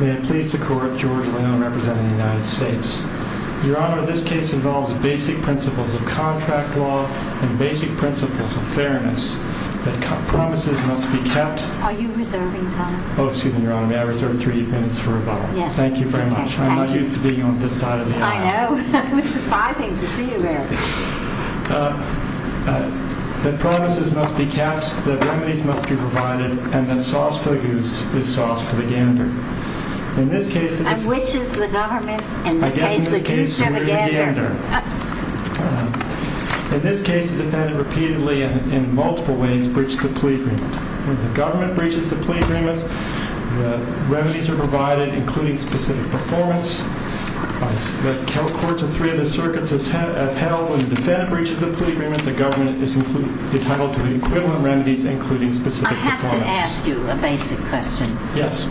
May it please the Court, George Leon representing the United States. Your Honor, this case involves basic principles of contract law and basic principles of fairness. Promises must be kept. Are you reserving time? Oh, excuse me, Your Honor, may I reserve three minutes for rebuttal? Yes. Thank you very much. I'm not used to being on this side of the aisle. I know. It was surprising to see you there. That promises must be kept, that remedies must be provided, and that sauce for the goose is sauce for the gander. And which is the government? In this case, the goose or the gander? In this case, the defendant repeatedly and in multiple ways breached the plea agreement. When the government breaches the plea agreement, the remedies are provided, including specific performance. The courts of three of the circuits have held when the defendant breaches the plea agreement, the government is entitled to the equivalent remedies, including specific performance. I have to ask you a basic question. Yes.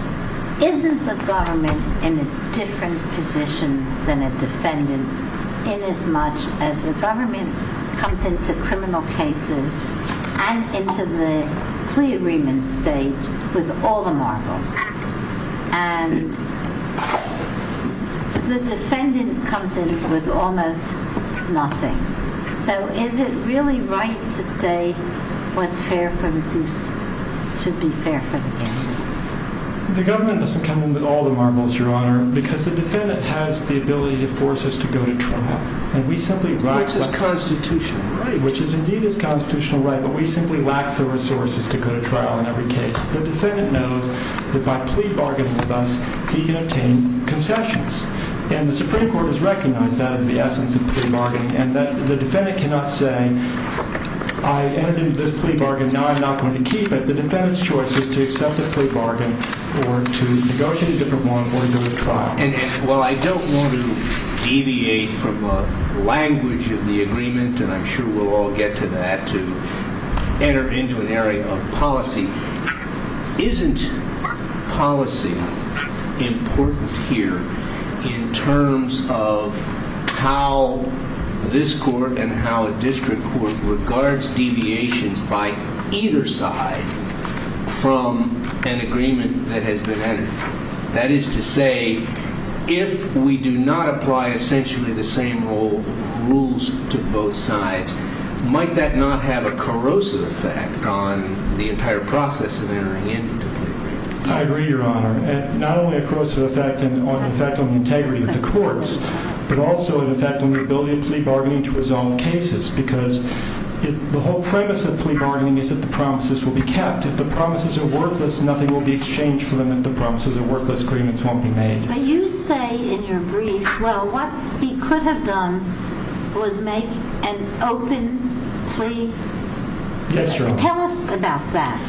Isn't the government in a different position than a defendant in as much as the government comes into criminal cases and into the plea agreement stage with all the marbles, and the defendant comes in with almost nothing? So is it really right to say what's fair for the goose should be fair for the gander? The government doesn't come in with all the marbles, Your Honor, because the defendant has the ability to force us to go to trial. Which is constitutional. Right, which is indeed a constitutional right, but we simply lack the resources to go to trial in every case. The defendant knows that by plea bargaining with us, he can obtain concessions. And the Supreme Court has recognized that as the essence of plea bargaining, and the defendant cannot say, I entered into this plea bargain, now I'm not going to keep it. The defendant's choice is to accept the plea bargain or to negotiate a different one or to go to trial. Well, I don't want to deviate from the language of the agreement, and I'm sure we'll all get to that, to enter into an area of policy. Isn't policy important here in terms of how this court and how a district court regards deviations by either side from an agreement that has been entered? That is to say, if we do not apply essentially the same rules to both sides, might that not have a corrosive effect on the entire process of entering into plea bargaining? I agree, Your Honor. Not only a corrosive effect on the integrity of the courts, but also an effect on the ability of plea bargaining to resolve cases, because the whole premise of plea bargaining is that the promises will be kept. If the promises are worthless, nothing will be exchanged for them, and the promises of worthless agreements won't be made. But you say in your brief, well, what he could have done was make an open plea? Yes, Your Honor. Tell us about that.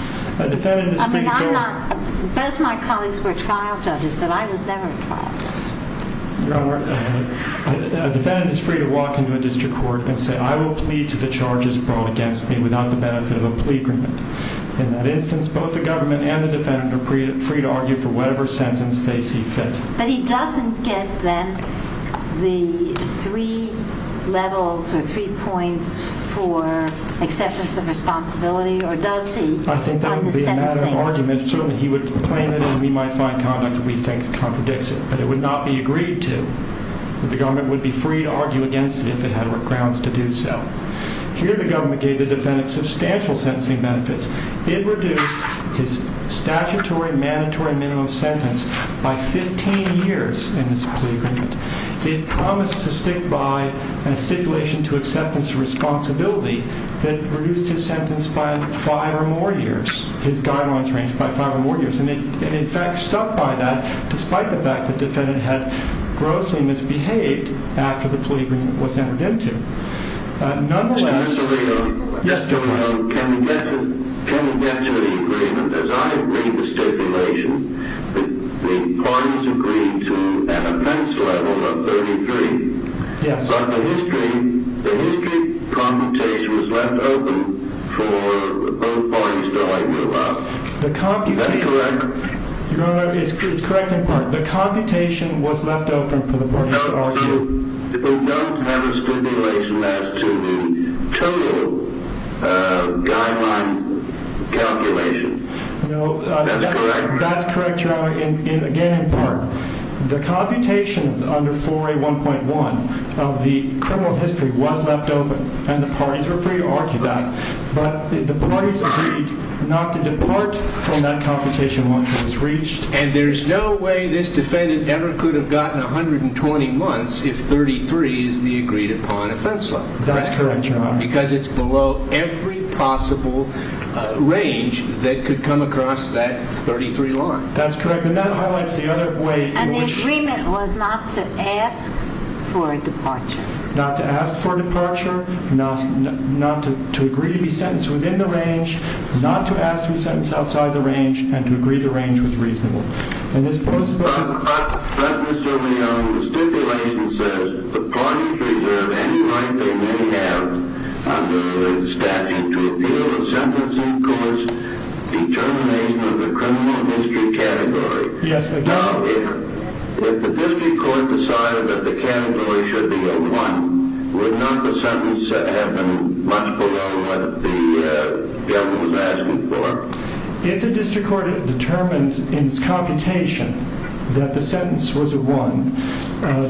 Both my colleagues were trial judges, but I was never a trial judge. A defendant is free to walk into a district court and say, I will plead to the charges brought against me without the benefit of a plea agreement. In that instance, both the government and the defendant are free to argue for whatever sentence they see fit. But he doesn't get then the three levels or three points for acceptance of responsibility, or does he? I think that would be a matter of argument. Certainly he would claim it, and we might find content that we think contradicts it. But it would not be agreed to. The government would be free to argue against it if it had grounds to do so. Here the government gave the defendant substantial sentencing benefits. It reduced his statutory mandatory minimum sentence by 15 years in this plea agreement. It promised to stick by a stipulation to acceptance of responsibility that reduced his sentence by five or more years, his guidelines range by five or more years. And it in fact stuck by that, despite the fact that the defendant had grossly misbehaved after the plea agreement was entered into. Mr. Messerego, can we get to the agreement? As I agreed to stipulation, the parties agreed to an offense level of 33. But the history computation was left open for both parties to argue about. Is that correct? Your Honor, it's correct in part. The computation was left open for the parties to argue. People who don't have a stipulation as to the total guideline calculation. That's correct, Your Honor, again in part. The computation under 4A1.1 of the criminal history was left open, and the parties were free to argue that. But the parties agreed not to depart from that computation once it was reached. And there's no way this defendant ever could have gotten 120 months if 33 is the agreed upon offense level. That's correct, Your Honor. Because it's below every possible range that could come across that 33 line. That's correct. And that highlights the other way in which... And the agreement was not to ask for a departure. Not to ask for a departure, not to agree to be sentenced within the range, not to ask to be sentenced outside the range, and to agree the range was reasonable. But, Mr. Leone, the stipulation says the parties reserve any right they may have under the statute to appeal the sentencing court's determination of the criminal history category. Yes, they do. Well, if the district court decided that the category should be a 1, would not the sentence have been much below what the defendant was asking for? If the district court determined in its computation that the sentence was a 1,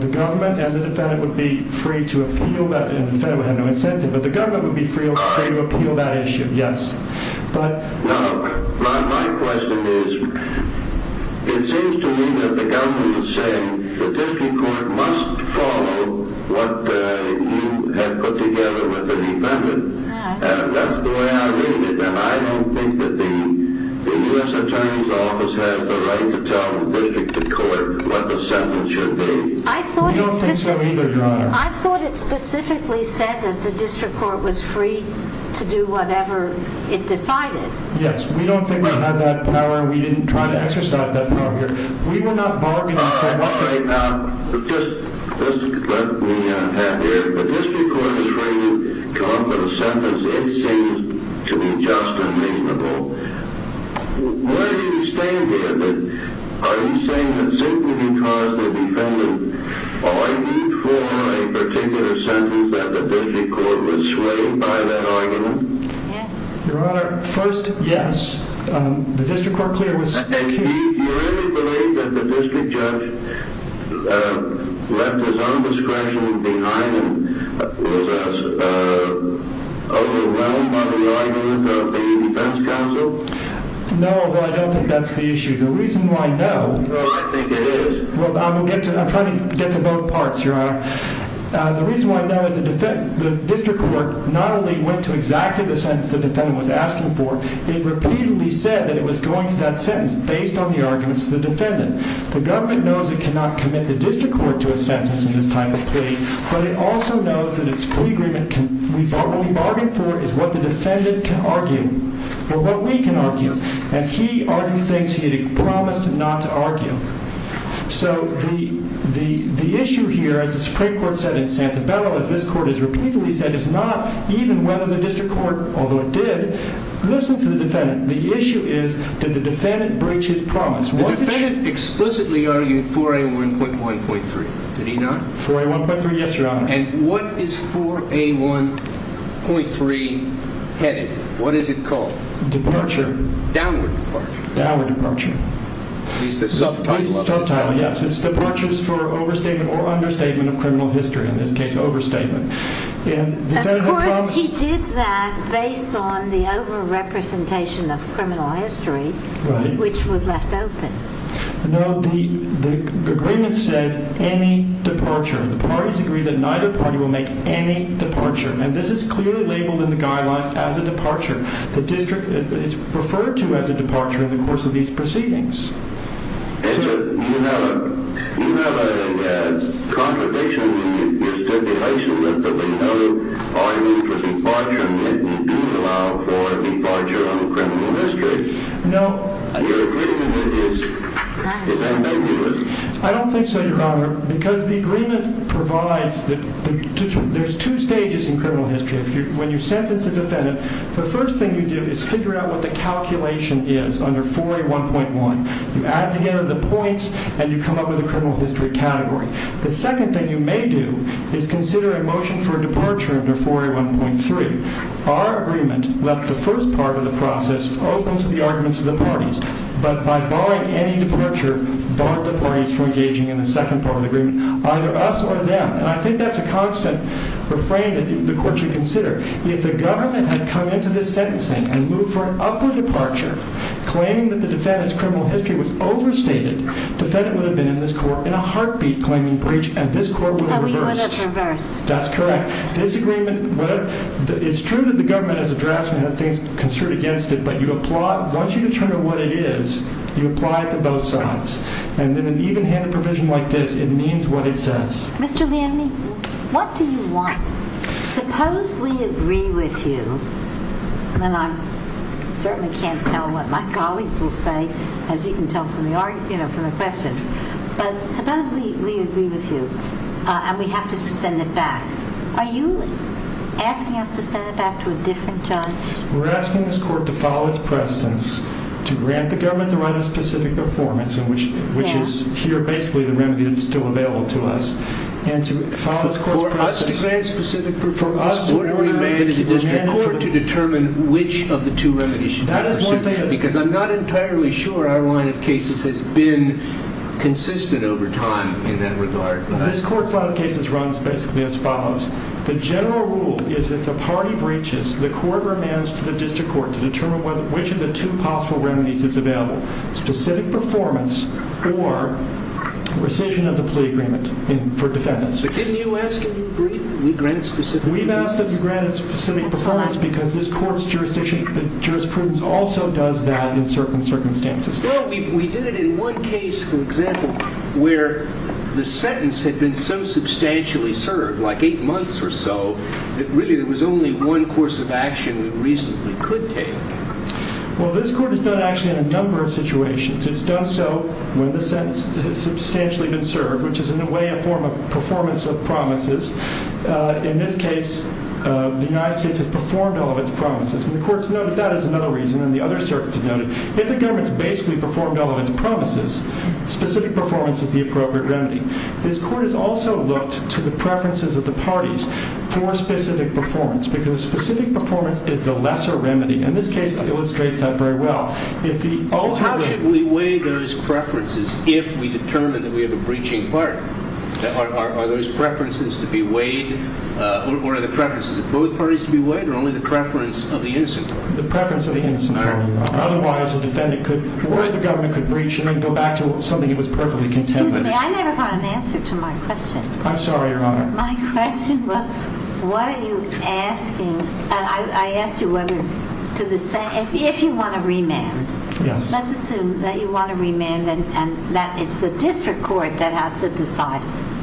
the government and the defendant would be free to appeal that. And the defendant would have no incentive, but the government would be free to appeal that issue, yes. Now, my question is, it seems to me that the government is saying the district court must follow what you have put together with the defendant. And that's the way I read it. And I don't think that the U.S. Attorney's Office has the right to tell the district court what the sentence should be. I thought it specifically said that the district court was free to do whatever it decided. Yes, we don't think we have that power. We didn't try to exercise that power here. We will not bargain. All right, all right. Now, just let me add here, if the district court is free to come up with a sentence, it seems to be just and reasonable. Where do you stand here? Are you saying that simply because the defendant argued for a particular sentence that the district court was swayed by that argument? Your Honor, first, yes. The district court clearly was. Do you really believe that the district judge left his own discretion behind and was overwhelmed by the argument of the defense counsel? No, I don't think that's the issue. The reason why, no. No, I think it is. Well, I'm trying to get to both parts, Your Honor. The reason why, no, is the district court not only went to exactly the sentence the defendant was asking for, it repeatedly said that it was going to that sentence based on the arguments of the defendant. The government knows it cannot commit the district court to a sentence in this type of plea, but it also knows that its plea agreement, what we bargained for, is what the defendant can argue, or what we can argue. And he argued things he had promised not to argue. So the issue here, as the Supreme Court said in Santabella, as this court has repeatedly said, is not even whether the district court, although it did, listened to the defendant. The issue is did the defendant breach his promise? The defendant explicitly argued 4A1.1.3. Did he not? 4A1.3, yes, Your Honor. And what is 4A1.3 headed? What is it called? Departure. Downward departure. Downward departure. It's the subtitle of the title. Yes, it's departures for overstatement or understatement of criminal history, in this case overstatement. Of course he did that based on the overrepresentation of criminal history, which was left open. No, the agreement says any departure. The parties agree that neither party will make any departure. And this is clearly labeled in the guidelines as a departure. The district is referred to as a departure in the course of these proceedings. You have a contradiction in your stipulation that there will be no argument for departure, and that you do allow for a departure on criminal history. No. Your agreement is ambiguous. I don't think so, Your Honor, because the agreement provides that there's two stages in criminal history. When you sentence a defendant, the first thing you do is figure out what the calculation is under 4A1.1. You add together the points, and you come up with a criminal history category. The second thing you may do is consider a motion for a departure under 4A1.3. Our agreement left the first part of the process open to the arguments of the parties, but by barring any departure, barred the parties from engaging in the second part of the agreement, either us or them. And I think that's a constant refrain that the court should consider. If the government had come into this sentencing and moved for an upward departure, claiming that the defendant's criminal history was overstated, the defendant would have been in this court in a heartbeat claiming breach, and this court would have reversed. And we would have reversed. That's correct. It's true that the government, as a draftsman, has things construed against it, but once you determine what it is, you apply it to both sides. And in an even-handed provision like this, it means what it says. Mr. Leamy, what do you want? Suppose we agree with you, and I certainly can't tell what my colleagues will say, as you can tell from the questions, but suppose we agree with you and we have to send it back. Are you asking us to send it back to a different judge? We're asking this court to follow its precedents, to grant the government the right of specific performance, which is here basically the remedy that's still available to us. For us to grant specific performance, we're going to have to demand from the court to determine which of the two remedies should be pursued. Because I'm not entirely sure our line of cases has been consistent over time in that regard. This court's line of cases runs basically as follows. The general rule is if a party breaches, the court demands to the district court to determine which of the two possible remedies is available. Specific performance or rescission of the plea agreement for defendants. But didn't you ask that we agree that we grant specific performance? We've asked that we grant specific performance, because this court's jurisprudence also does that in certain circumstances. Well, we did it in one case, for example, where the sentence had been so substantially served, like eight months or so, that really there was only one course of action we reasonably could take. Well, this court has done it actually in a number of situations. It's done so when the sentence has substantially been served, which is in a way a form of performance of promises. In this case, the United States has performed all of its promises. And the court's noted that as another reason, and the other circuits have noted, if the government's basically performed all of its promises, specific performance is the appropriate remedy. This court has also looked to the preferences of the parties for specific performance, because specific performance is the lesser remedy. And this case illustrates that very well. We weigh those preferences if we determine that we have a breaching party. Are those preferences to be weighed? Or are the preferences of both parties to be weighed, or only the preference of the innocent party? The preference of the innocent party. Otherwise, the defendant could worry the government could breach and then go back to something that was perfectly contemporary. Excuse me, I never got an answer to my question. I'm sorry, Your Honor. My question was, what are you asking? I asked you whether, if you want to remand, let's assume that you want to remand and that it's the district court that has to decide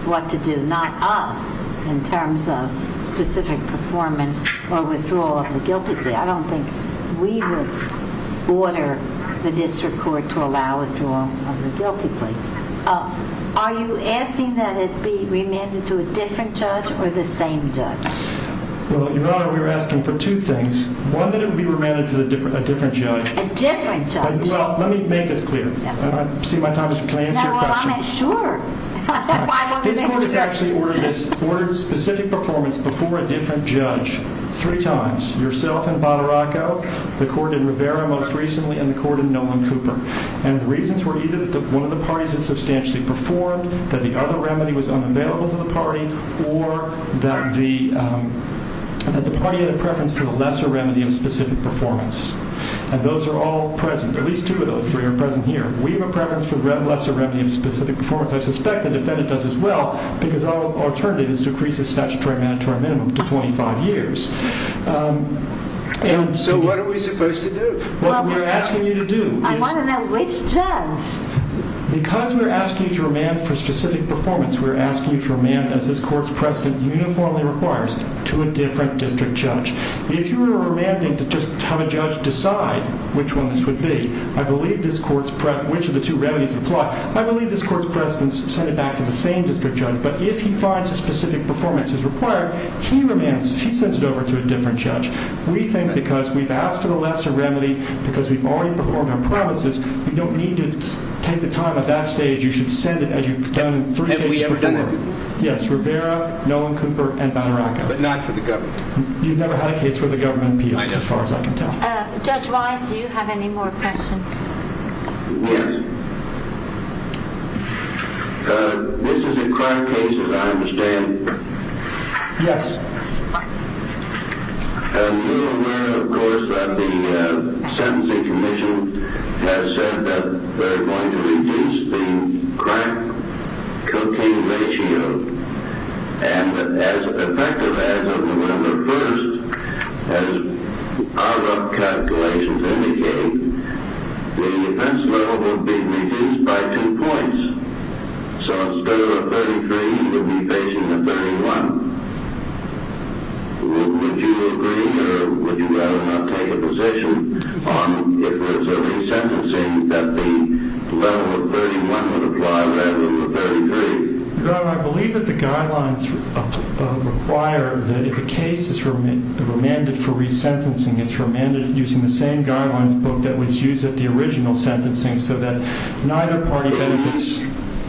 what to do, not us in terms of specific performance or withdrawal of the guilty plea. I don't think we would order the district court to allow withdrawal of the guilty plea. Are you asking that it be remanded to a different judge or the same judge? Well, Your Honor, we were asking for two things. One, that it be remanded to a different judge. A different judge. Well, let me make this clear. See if my time is up. Can I answer your question? Sure. This court has actually ordered specific performance before a different judge three times. Yourself in Botoraco, the court in Rivera most recently, and the court in Nolan Cooper. And the reasons were either that one of the parties had substantially performed, that the other remedy was unavailable to the party, or that the party had a preference for the lesser remedy of specific performance. And those are all present. At least two of those three are present here. We have a preference for the lesser remedy of specific performance. I suspect the defendant does as well, because our alternative is to increase the statutory mandatory minimum to 25 years. So what are we supposed to do? Well, we're asking you to do. I want to know which judge. Because we're asking you to remand for specific performance, we're asking you to remand, as this court's precedent uniformly requires, to a different district judge. If you were remanding to just have a judge decide which one this would be, I believe this court's precedent, which of the two remedies would apply, I believe this court's precedent is to send it back to the same district judge. But if he finds a specific performance is required, he remands. He sends it over to a different judge. We think because we've asked for the lesser remedy, because we've already performed our promises, we don't need to take the time at that stage. You should send it as you've done in three cases before. Have we ever done that before? Yes, Rivera, Nolan Cooper, and Van Aracko. But not for the government. You've never had a case for the government, Peter, as far as I can tell. I know. Judge Wise, do you have any more questions? Yes. This is a current case, as I understand. Yes. Have you heard, of course, that the sentencing commission has said that they're going to reduce the crack-cocaine ratio? And as effective as of November 1st, as our calculations indicate, the offense level will be reduced by two points. So instead of a 33, you would be facing a 31. Would you agree, or would you rather not take a position on if there's a resentencing that the level of 31 would apply rather than the 33? Your Honor, I believe that the guidelines require that if a case is remanded for resentencing, it's remanded using the same guidelines book that was used at the original sentencing so that neither party benefits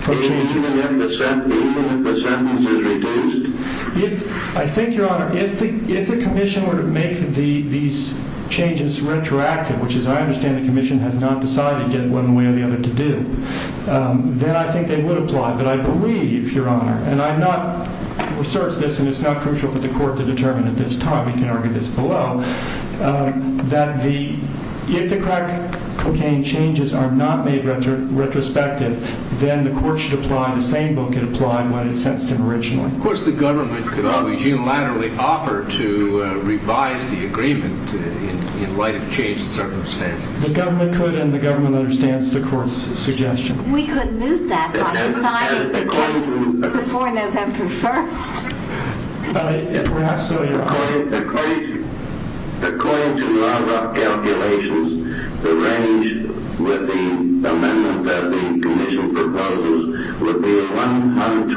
from changes. Do you believe that the sentence is reduced? I think, Your Honor, if the commission were to make these changes retroactive, which, as I understand, the commission has not decided yet one way or the other to do, then I think they would apply. But I believe, Your Honor, and I've not researched this, and it's not crucial for the court to determine at this time, that if the crack cocaine changes are not made retrospective, then the court should apply the same book it applied when it sentenced him originally. Of course, the government could always unilaterally offer to revise the agreement in light of change in circumstances. The government could, and the government understands the court's suggestion. We could move that by deciding, I guess, before November 1st. If perhaps so, Your Honor. According to NARA calculations, the range with the amendment that the commission proposes would be 121 months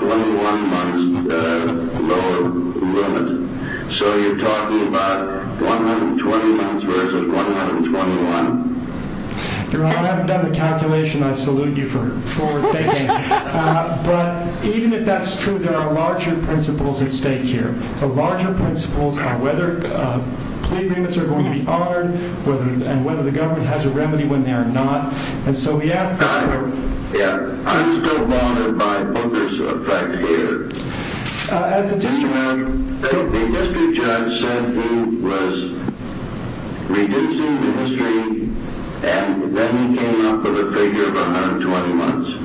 lower limit. So you're talking about 120 months versus 121? Your Honor, I haven't done the calculation. I salute you for forward thinking. But even if that's true, there are larger principles at stake here. The larger principles are whether plea agreements are going to be honored and whether the government has a remedy when they are not. And so we ask this court. I'm still bothered by Booker's effect here. As the district judge said, he was reducing the history, and then he came up with a figure of 120 months.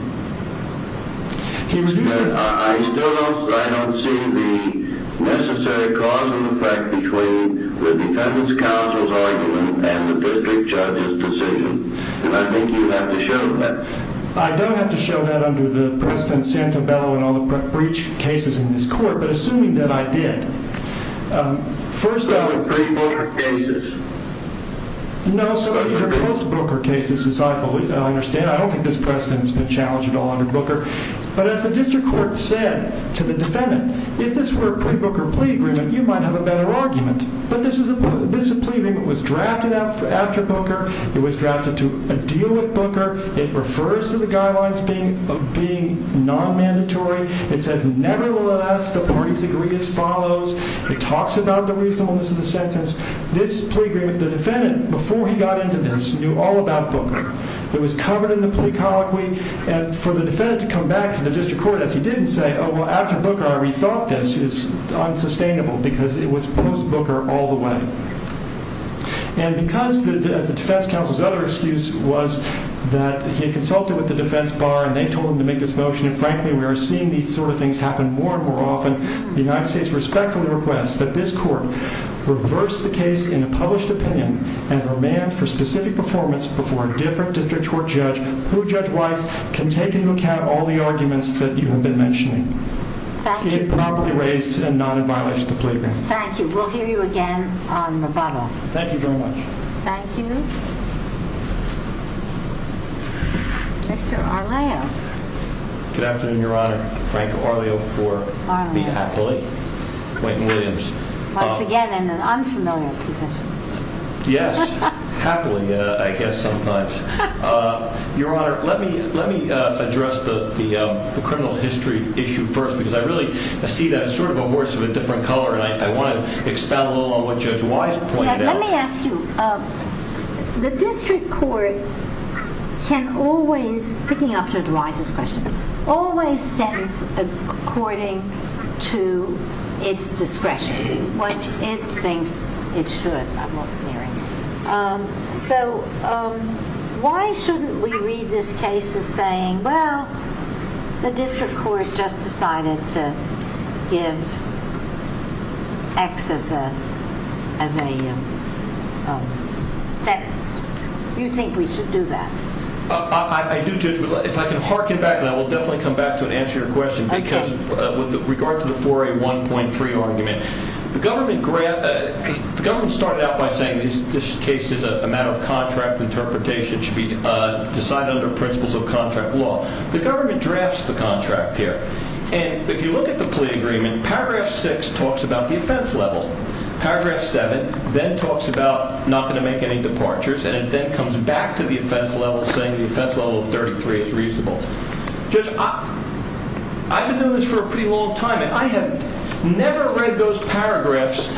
I still don't see the necessary cause in the fact between the defendant's counsel's argument and the district judge's decision. And I think you have to show that. I don't have to show that under the President Santabello and all the breach cases in this court, but assuming that I did. Those are pre-Booker cases. No, so these are post-Booker cases, as I understand. I don't think this precedent has been challenged at all under Booker. But as the district court said to the defendant, if this were a pre-Booker plea agreement, you might have a better argument. But this is a plea agreement that was drafted after Booker. It was drafted to a deal with Booker. It refers to the guidelines being non-mandatory. It says, nevertheless, the parties agree as follows. It talks about the reasonableness of the sentence. This plea agreement, the defendant, before he got into this, knew all about Booker. It was covered in the plea colloquy. And for the defendant to come back to the district court as he did and say, oh, well, after Booker I rethought this is unsustainable because it was post-Booker all the way. And because the defense counsel's other excuse was that he had consulted with the defense bar and they told him to make this motion, and frankly we are seeing these sort of things happen more and more often, the United States respectfully requests that this court reverse the case in a published opinion and remand for specific performance before a different district court judge who, judge-wise, can take into account all the arguments that you have been mentioning. It probably raised a non-inviolation of the plea agreement. Thank you. We'll hear you again on rebuttal. Thank you very much. Thank you. Mr. Arleo. Good afternoon, Your Honor. Frank Arleo for me happily. Quentin Williams. Once again in an unfamiliar position. Yes, happily I guess sometimes. Your Honor, let me address the criminal history issue first because I really see that as sort of a horse of a different color and I want to expound a little on what Judge Wise pointed out. Let me ask you, the district court can always, picking up Judge Wise's question, always sentence according to its discretion. What it thinks it should, I'm also hearing. So why shouldn't we read this case as saying, well, the district court just decided to give X as a sentence. You think we should do that? I do, Judge. If I can harken back, and I will definitely come back to answer your question. Okay. Because with regard to the 4A1.3 argument, the government started out by saying this case is a matter of contract interpretation, it should be decided under principles of contract law. The government drafts the contract here. And if you look at the plea agreement, paragraph 6 talks about the offense level. Paragraph 7 then talks about not going to make any departures and then comes back to the offense level saying the offense level of 33 is reasonable. Judge, I've been doing this for a pretty long time and I have never read those paragraphs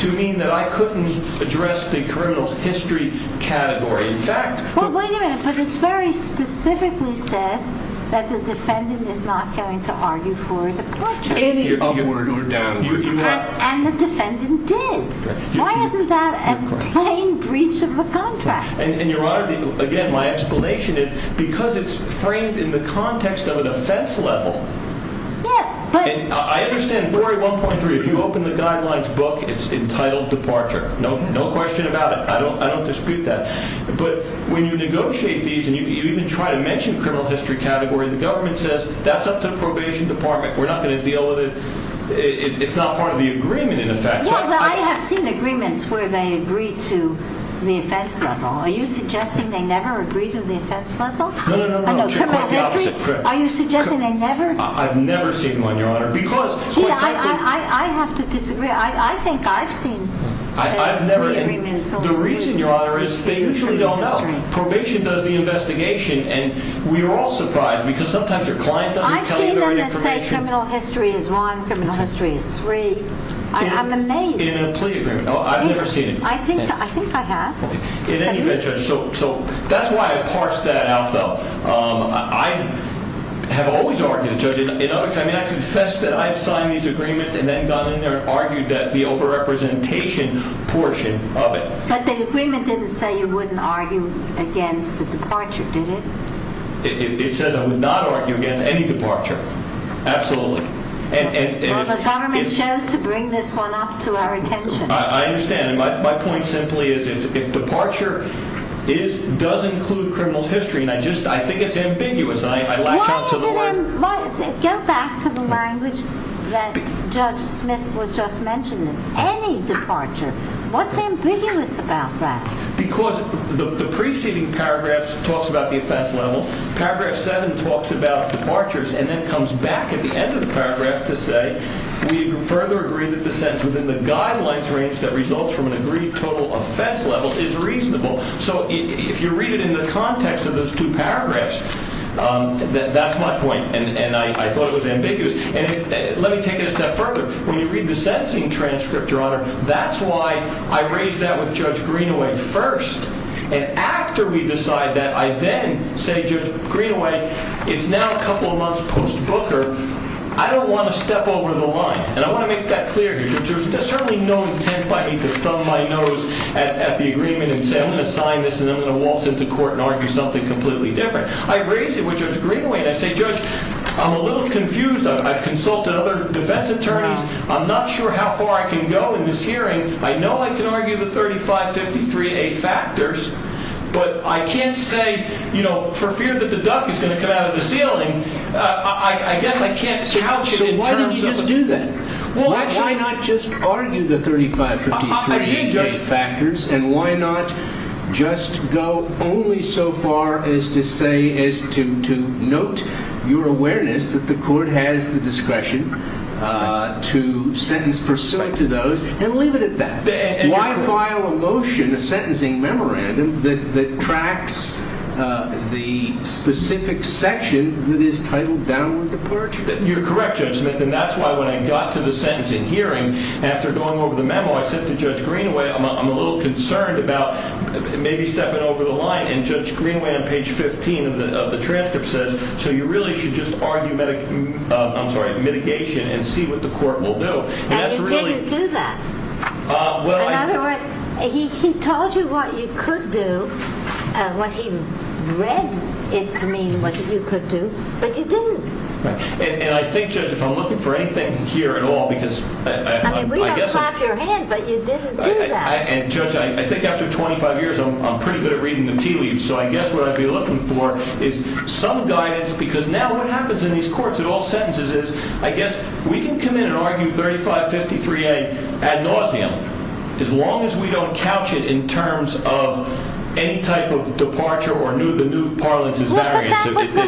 to mean that I couldn't address the criminal history category. Well, wait a minute. But it very specifically says that the defendant is not going to argue for a departure. Upward or downward. And the defendant did. Why isn't that a plain breach of the contract? And, Your Honor, again, my explanation is because it's framed in the context of an offense level. I understand 4A1.3, if you open the guidelines book, it's entitled departure. No question about it. I don't dispute that. But when you negotiate these and you even try to mention criminal history category, the government says that's up to the probation department. We're not going to deal with it. It's not part of the agreement, in effect. Well, I have seen agreements where they agree to the offense level. Are you suggesting they never agree to the offense level? No, no, no. Criminal history? Are you suggesting they never? I've never seen one, Your Honor. I have to disagree. I think I've seen three agreements. The reason, Your Honor, is they usually don't know. Probation does the investigation, and we're all surprised because sometimes your client doesn't tell you their information. I've seen them that say criminal history is one, criminal history is three. I'm amazed. In a plea agreement. I've never seen it. I think I have. In any event, Judge, so that's why I parsed that out, though. I have always argued, Judge. I confess that I've signed these agreements and then gone in there and argued that the over-representation portion of it. But the agreement didn't say you wouldn't argue against the departure, did it? It says I would not argue against any departure. Absolutely. Well, the government chose to bring this one up to our attention. I understand. My point simply is if departure does include criminal history, and I think it's ambiguous, and I latch onto the word. Go back to the language that Judge Smith was just mentioning. Any departure. What's ambiguous about that? Because the preceding paragraph talks about the offense level. Paragraph 7 talks about departures and then comes back at the end of the paragraph to say, we further agree that the sentence within the guidelines range that results from an agreed total offense level is reasonable. So if you read it in the context of those two paragraphs, that's my point. And I thought it was ambiguous. And let me take it a step further. When you read the sentencing transcript, Your Honor, that's why I raised that with Judge Greenaway first. And after we decide that, I then say, Judge Greenaway, it's now a couple of months post-Booker. I don't want to step over the line. And I want to make that clear here. There's certainly no intent by me to thumb my nose at the agreement and say, I'm going to sign this, and then I'm going to waltz into court and argue something completely different. I raise it with Judge Greenaway, and I say, Judge, I'm a little confused. I've consulted other defense attorneys. I'm not sure how far I can go in this hearing. I know I can argue the 3553A factors, but I can't say, you know, for fear that the duck is going to come out of the ceiling, why not just argue the 3553A factors, and why not just go only so far as to say, as to note your awareness that the court has the discretion to sentence pursuant to those and leave it at that? Why file a motion, a sentencing memorandum, that tracks the specific section that is titled downward departure? You're correct, Judge Smith, and that's why when I got to the sentencing hearing, after going over the memo, I said to Judge Greenaway, I'm a little concerned about maybe stepping over the line, and Judge Greenaway on page 15 of the transcript says, so you really should just argue mitigation and see what the court will do. And you didn't do that. In other words, he told you what you could do, what he read to mean what you could do, but you didn't. And I think, Judge, if I'm looking for anything here at all, because I guess... I mean, we don't slap your head, but you didn't do that. And, Judge, I think after 25 years, I'm pretty good at reading the tea leaves, so I guess what I'd be looking for is some guidance, because now what happens in these courts at all sentences is, I guess we can come in and argue 3553A ad nauseum, as long as we don't couch it in terms of any type of departure or the new parlance of variance. But that was the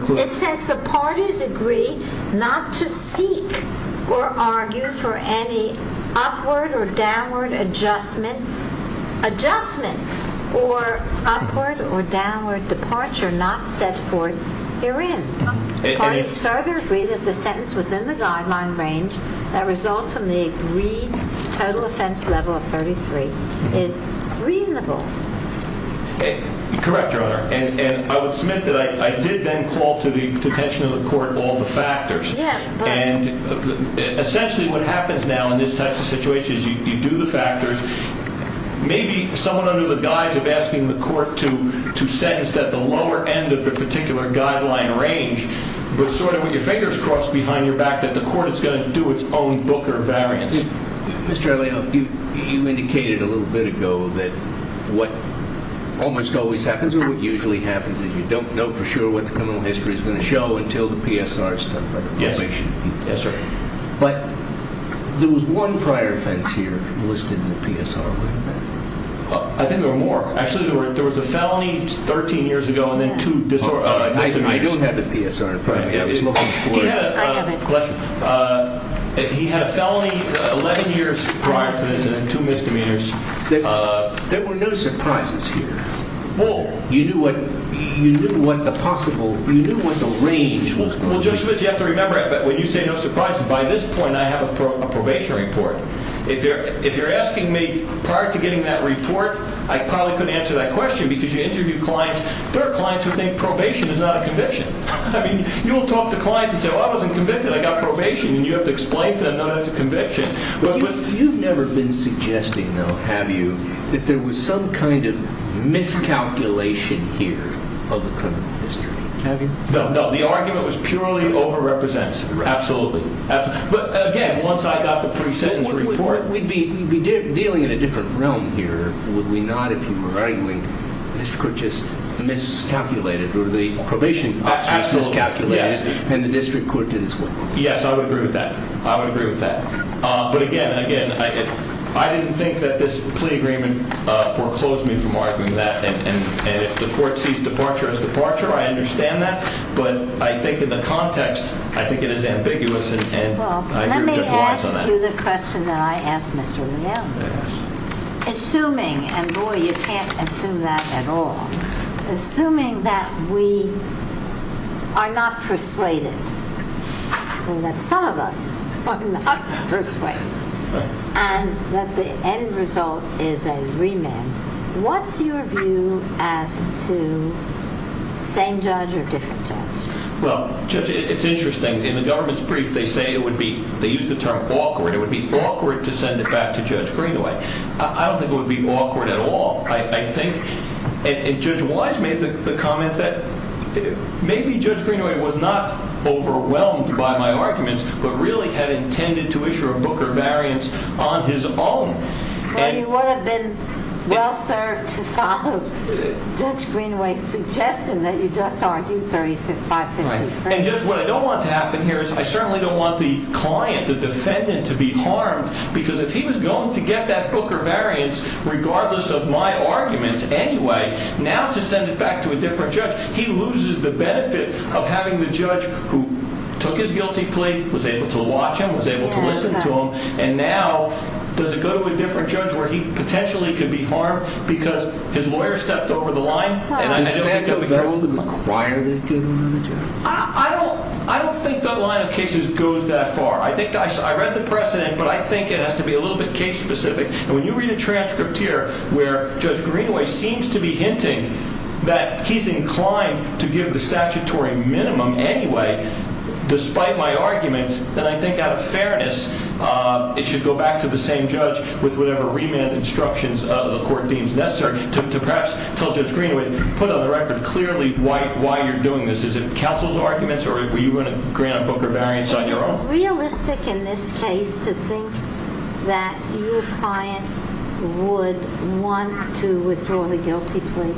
language. It says the parties agree not to seek or argue for any upward or downward adjustment, adjustment or upward or downward departure not set forth herein. The parties further agree that the sentence within the guideline range that results from the agreed total offense level of 33 is reasonable. Correct, Your Honor. And I would submit that I did then call to the attention of the court all the factors. Yeah, but... And essentially what happens now in this type of situation is you do the factors. Maybe someone under the guise of asking the court to sentence at the lower end of the particular guideline range, but sort of with your fingers crossed behind your back that the court is going to do its own booker variance. Mr. Alejo, you indicated a little bit ago that what almost always happens or what usually happens is you don't know for sure what the criminal history is going to show until the PSR is done by the probation team. Yes, sir. But there was one prior offense here listed in the PSR, wasn't there? I think there were more. Actually, there was a felony 13 years ago and then two disorderly... I don't have the PSR in front of me. I was looking for it. I have it. He had a felony 11 years prior to this and then two misdemeanors. There were no surprises here. Well, you knew what the range was. Well, Judge Smith, you have to remember when you say no surprises, by this point I have a probation report. If you're asking me prior to getting that report, I probably couldn't answer that question because you interview clients. There are clients who think probation is not a conviction. You will talk to clients and say, well, I wasn't convicted. I got probation. You have to explain to them that it's a conviction. You've never been suggesting, though, have you, that there was some kind of miscalculation here of the criminal history, have you? No, no. The argument was purely over-representative. Absolutely. But, again, once I got the pre-sentence report... We'd be dealing in a different realm here, would we not, if you were arguing, that the district court just miscalculated or the probation office miscalculated and the district court did its work? Yes, I would agree with that. I would agree with that. But, again, again, I didn't think that this plea agreement foreclosed me from arguing that. And if the court sees departure as departure, I understand that. But I think in the context, I think it is ambiguous, and I agree with Judge Weiss on that. To the question that I asked Mr. Leal, assuming, and, boy, you can't assume that at all, assuming that we are not persuaded and that some of us are not persuaded and that the end result is a remand, what's your view as to same judge or different judge? Well, Judge, it's interesting. In the government's brief, they say it would be... They use the term awkward. It would be awkward to send it back to Judge Greenaway. I don't think it would be awkward at all. I think... And Judge Weiss made the comment that maybe Judge Greenaway was not overwhelmed by my arguments but really had intended to issue a Booker variance on his own. Well, you would have been well served to follow Judge Greenaway's suggestion that you just argue 3553. And, Judge, what I don't want to happen here is I certainly don't want the client, the defendant, to be harmed because if he was going to get that Booker variance regardless of my arguments anyway, now to send it back to a different judge, he loses the benefit of having the judge who took his guilty plea, was able to watch him, was able to listen to him, and now does it go to a different judge where he potentially could be harmed because his lawyer stepped over the line? Does Sandoval and McQuire think it would go to another judge? I don't think that line of cases goes that far. I think... I read the precedent, but I think it has to be a little bit case specific. And when you read a transcript here where Judge Greenaway seems to be hinting that he's inclined to give the statutory minimum anyway despite my arguments, then I think out of fairness it should go back to the same judge with whatever remand instructions the court deems necessary to perhaps tell Judge Greenaway, put on the record clearly why you're doing this. Is it counsel's arguments or were you going to grant a Booker variance on your own? Is it realistic in this case to think that your client would want to withdraw the guilty plea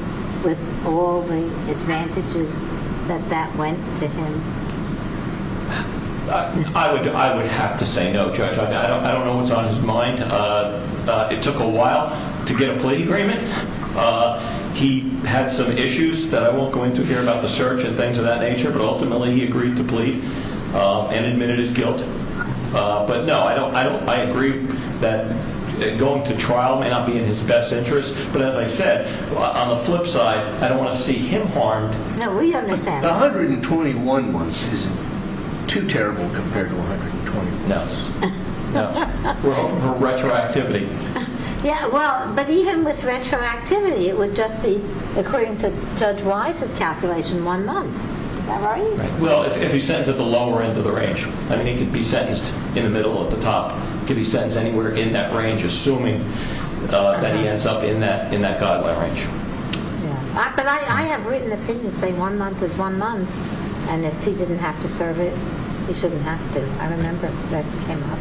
with all the advantages that that went to him? I would have to say no, Judge. I don't know what's on his mind. It took a while to get a plea agreement. He had some issues that I won't go into here about the search and things of that nature, but ultimately he agreed to plead and admitted his guilt. But no, I agree that going to trial may not be in his best interest. But as I said, on the flip side, I don't want to see him harmed. No, we understand. 121 months isn't too terrible compared to 120 months. No. No. We're open for retroactivity. Yeah, well, but even with retroactivity, it would just be, according to Judge Wise's calculation, one month. Is that right? Well, if he's sentenced at the lower end of the range. I mean, he could be sentenced in the middle or at the top. He could be sentenced anywhere in that range, assuming that he ends up in that guideline range. But I have written opinions saying one month is one month, and if he didn't have to serve it, he shouldn't have to. I remember that came up.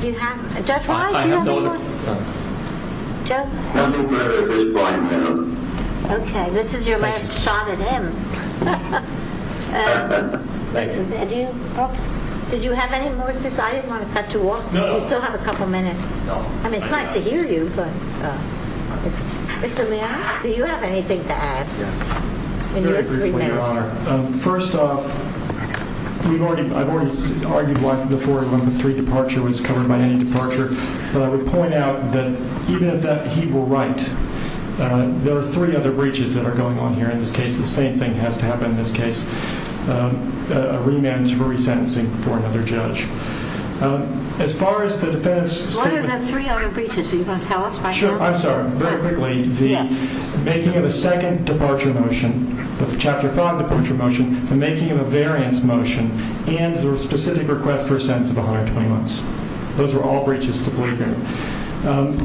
Do you have, Judge Wise, do you have any more? I have no other. Judge? I'm a very big fine man. Okay. This is your last shot at him. Thank you. Did you have any more? I didn't want to cut you off. No. You still have a couple minutes. No. I mean, it's nice to hear you, but. Mr. Leon, do you have anything to add in your three minutes? Very briefly, Your Honor. First off, I've already argued why the 4113 departure was covered by any departure. But I would point out that even if that he will write, there are three other breaches that are going on here in this case. The same thing has to happen in this case. A remand for resentencing for another judge. As far as the defense statement. What are the three other breaches? Are you going to tell us right now? Sure. I'm sorry. Very quickly, the making of a second departure motion, the Chapter 5 departure motion, the making of a variance motion, and the specific request for a sentence of 120 months. Those are all breaches to believe in.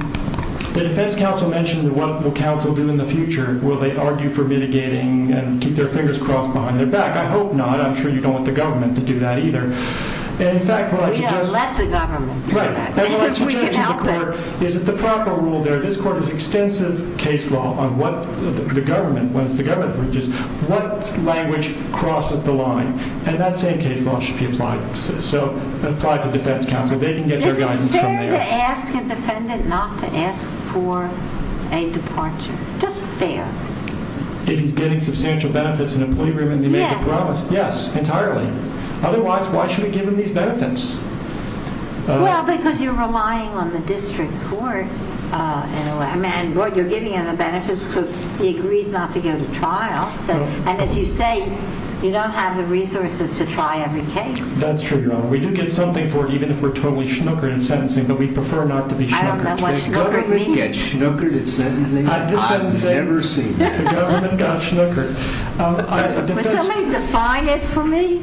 The defense counsel mentioned what the counsel will do in the future. Will they argue for mitigating and keep their fingers crossed behind their back? I hope not. I'm sure you don't want the government to do that either. In fact, what I suggest. We don't let the government do that. Right. And what I suggest to the court is that the proper rule there, this court has extensive case law on what the government, when it's the government's breaches, what language crosses the line. And that same case law should be applied. So apply to defense counsel. They can get their guidance from there. Is it fair to ask a defendant not to ask for a departure? Just fair. If he's getting substantial benefits in employee remand, he made the promise. Yes. Yes, entirely. Otherwise, why should we give him these benefits? Well, because you're relying on the district court. You're giving him the benefits because he agrees not to go to trial. And as you say, you don't have the resources to try every case. That's true, Your Honor. We do get something for it even if we're totally schnookered in sentencing, but we prefer not to be schnookered. I don't know what schnookering means. The government got schnookered in sentencing? I've just said the same thing. I've never seen that. The government got schnookered. Would somebody define it for me?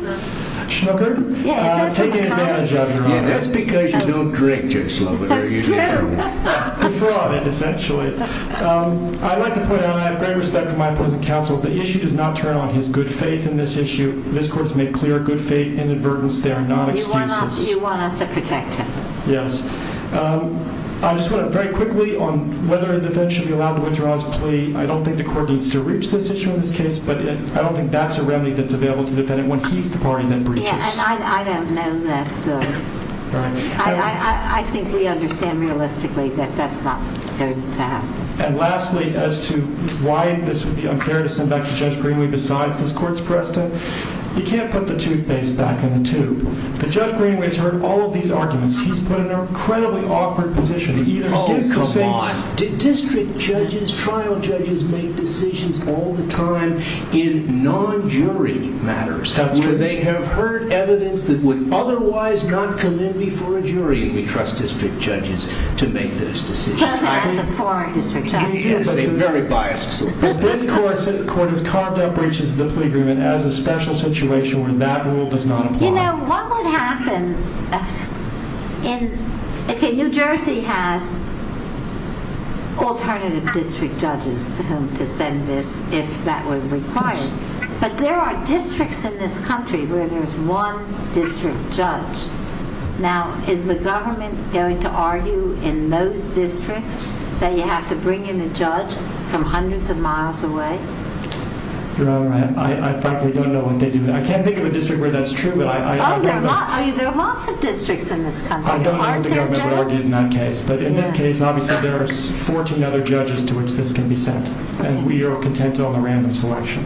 Schnookered? Yes. Taking advantage of, Your Honor. Yeah, that's because you don't drink too slow. That's true. The fraud, essentially. I'd like to point out, and I have great respect for my opposing counsel, the issue does not turn on his good faith in this issue. This court has made clear a good faith inadvertence. They are not excuses. You want us to protect him. Yes. I just want to very quickly, on whether a defendant should be allowed to withdraw his plea, I don't think the court needs to reach this issue in this case, but I don't think that's a remedy that's available to the defendant when he's the party that breaches. Yeah, and I don't know that. I think we understand realistically that that's not going to happen. And lastly, as to why this would be unfair to send back to Judge Greenway besides this court's precedent, you can't put the toothpaste back in the tube. But Judge Greenway's heard all of these arguments. He's put in an incredibly awkward position. Oh, come on. District judges, trial judges, make decisions all the time in non-jury matters. That's true. They have heard evidence that would otherwise not come in before a jury, and we trust district judges to make those decisions. Scott has a foreign district judge. He is a very biased source. This court has carved out breaches of the plea agreement as a special situation where that rule does not apply. You know, what would happen if New Jersey has alternative district judges to whom to send this if that were required, but there are districts in this country where there's one district judge. Now, is the government going to argue in those districts that you have to bring in a judge from hundreds of miles away? Your Honor, I frankly don't know what they do. I can't think of a district where that's true. Oh, there are lots of districts in this country. I don't know what the government would argue in that case, but in this case, obviously, there are 14 other judges to which this can be sent, and we are content on the random selection.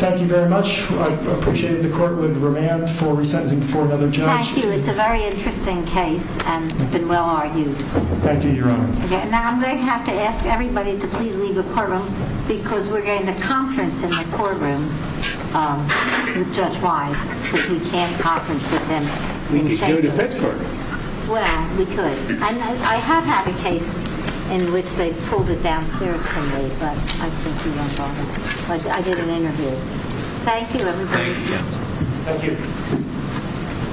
Thank you very much. I appreciate it. The court would remand for resentencing before another judge. Thank you. It's a very interesting case and it's been well argued. Thank you, Your Honor. Now, I'm going to have to ask everybody to please leave the courtroom because we're going to conference in the courtroom with Judge Wise because we can't conference with him in chambers. We could go to Bedford. Well, we could. I have had a case in which they pulled it downstairs from me, but I think you won't bother. I did an interview. Thank you, everybody. Thank you, Your Honor. Thank you.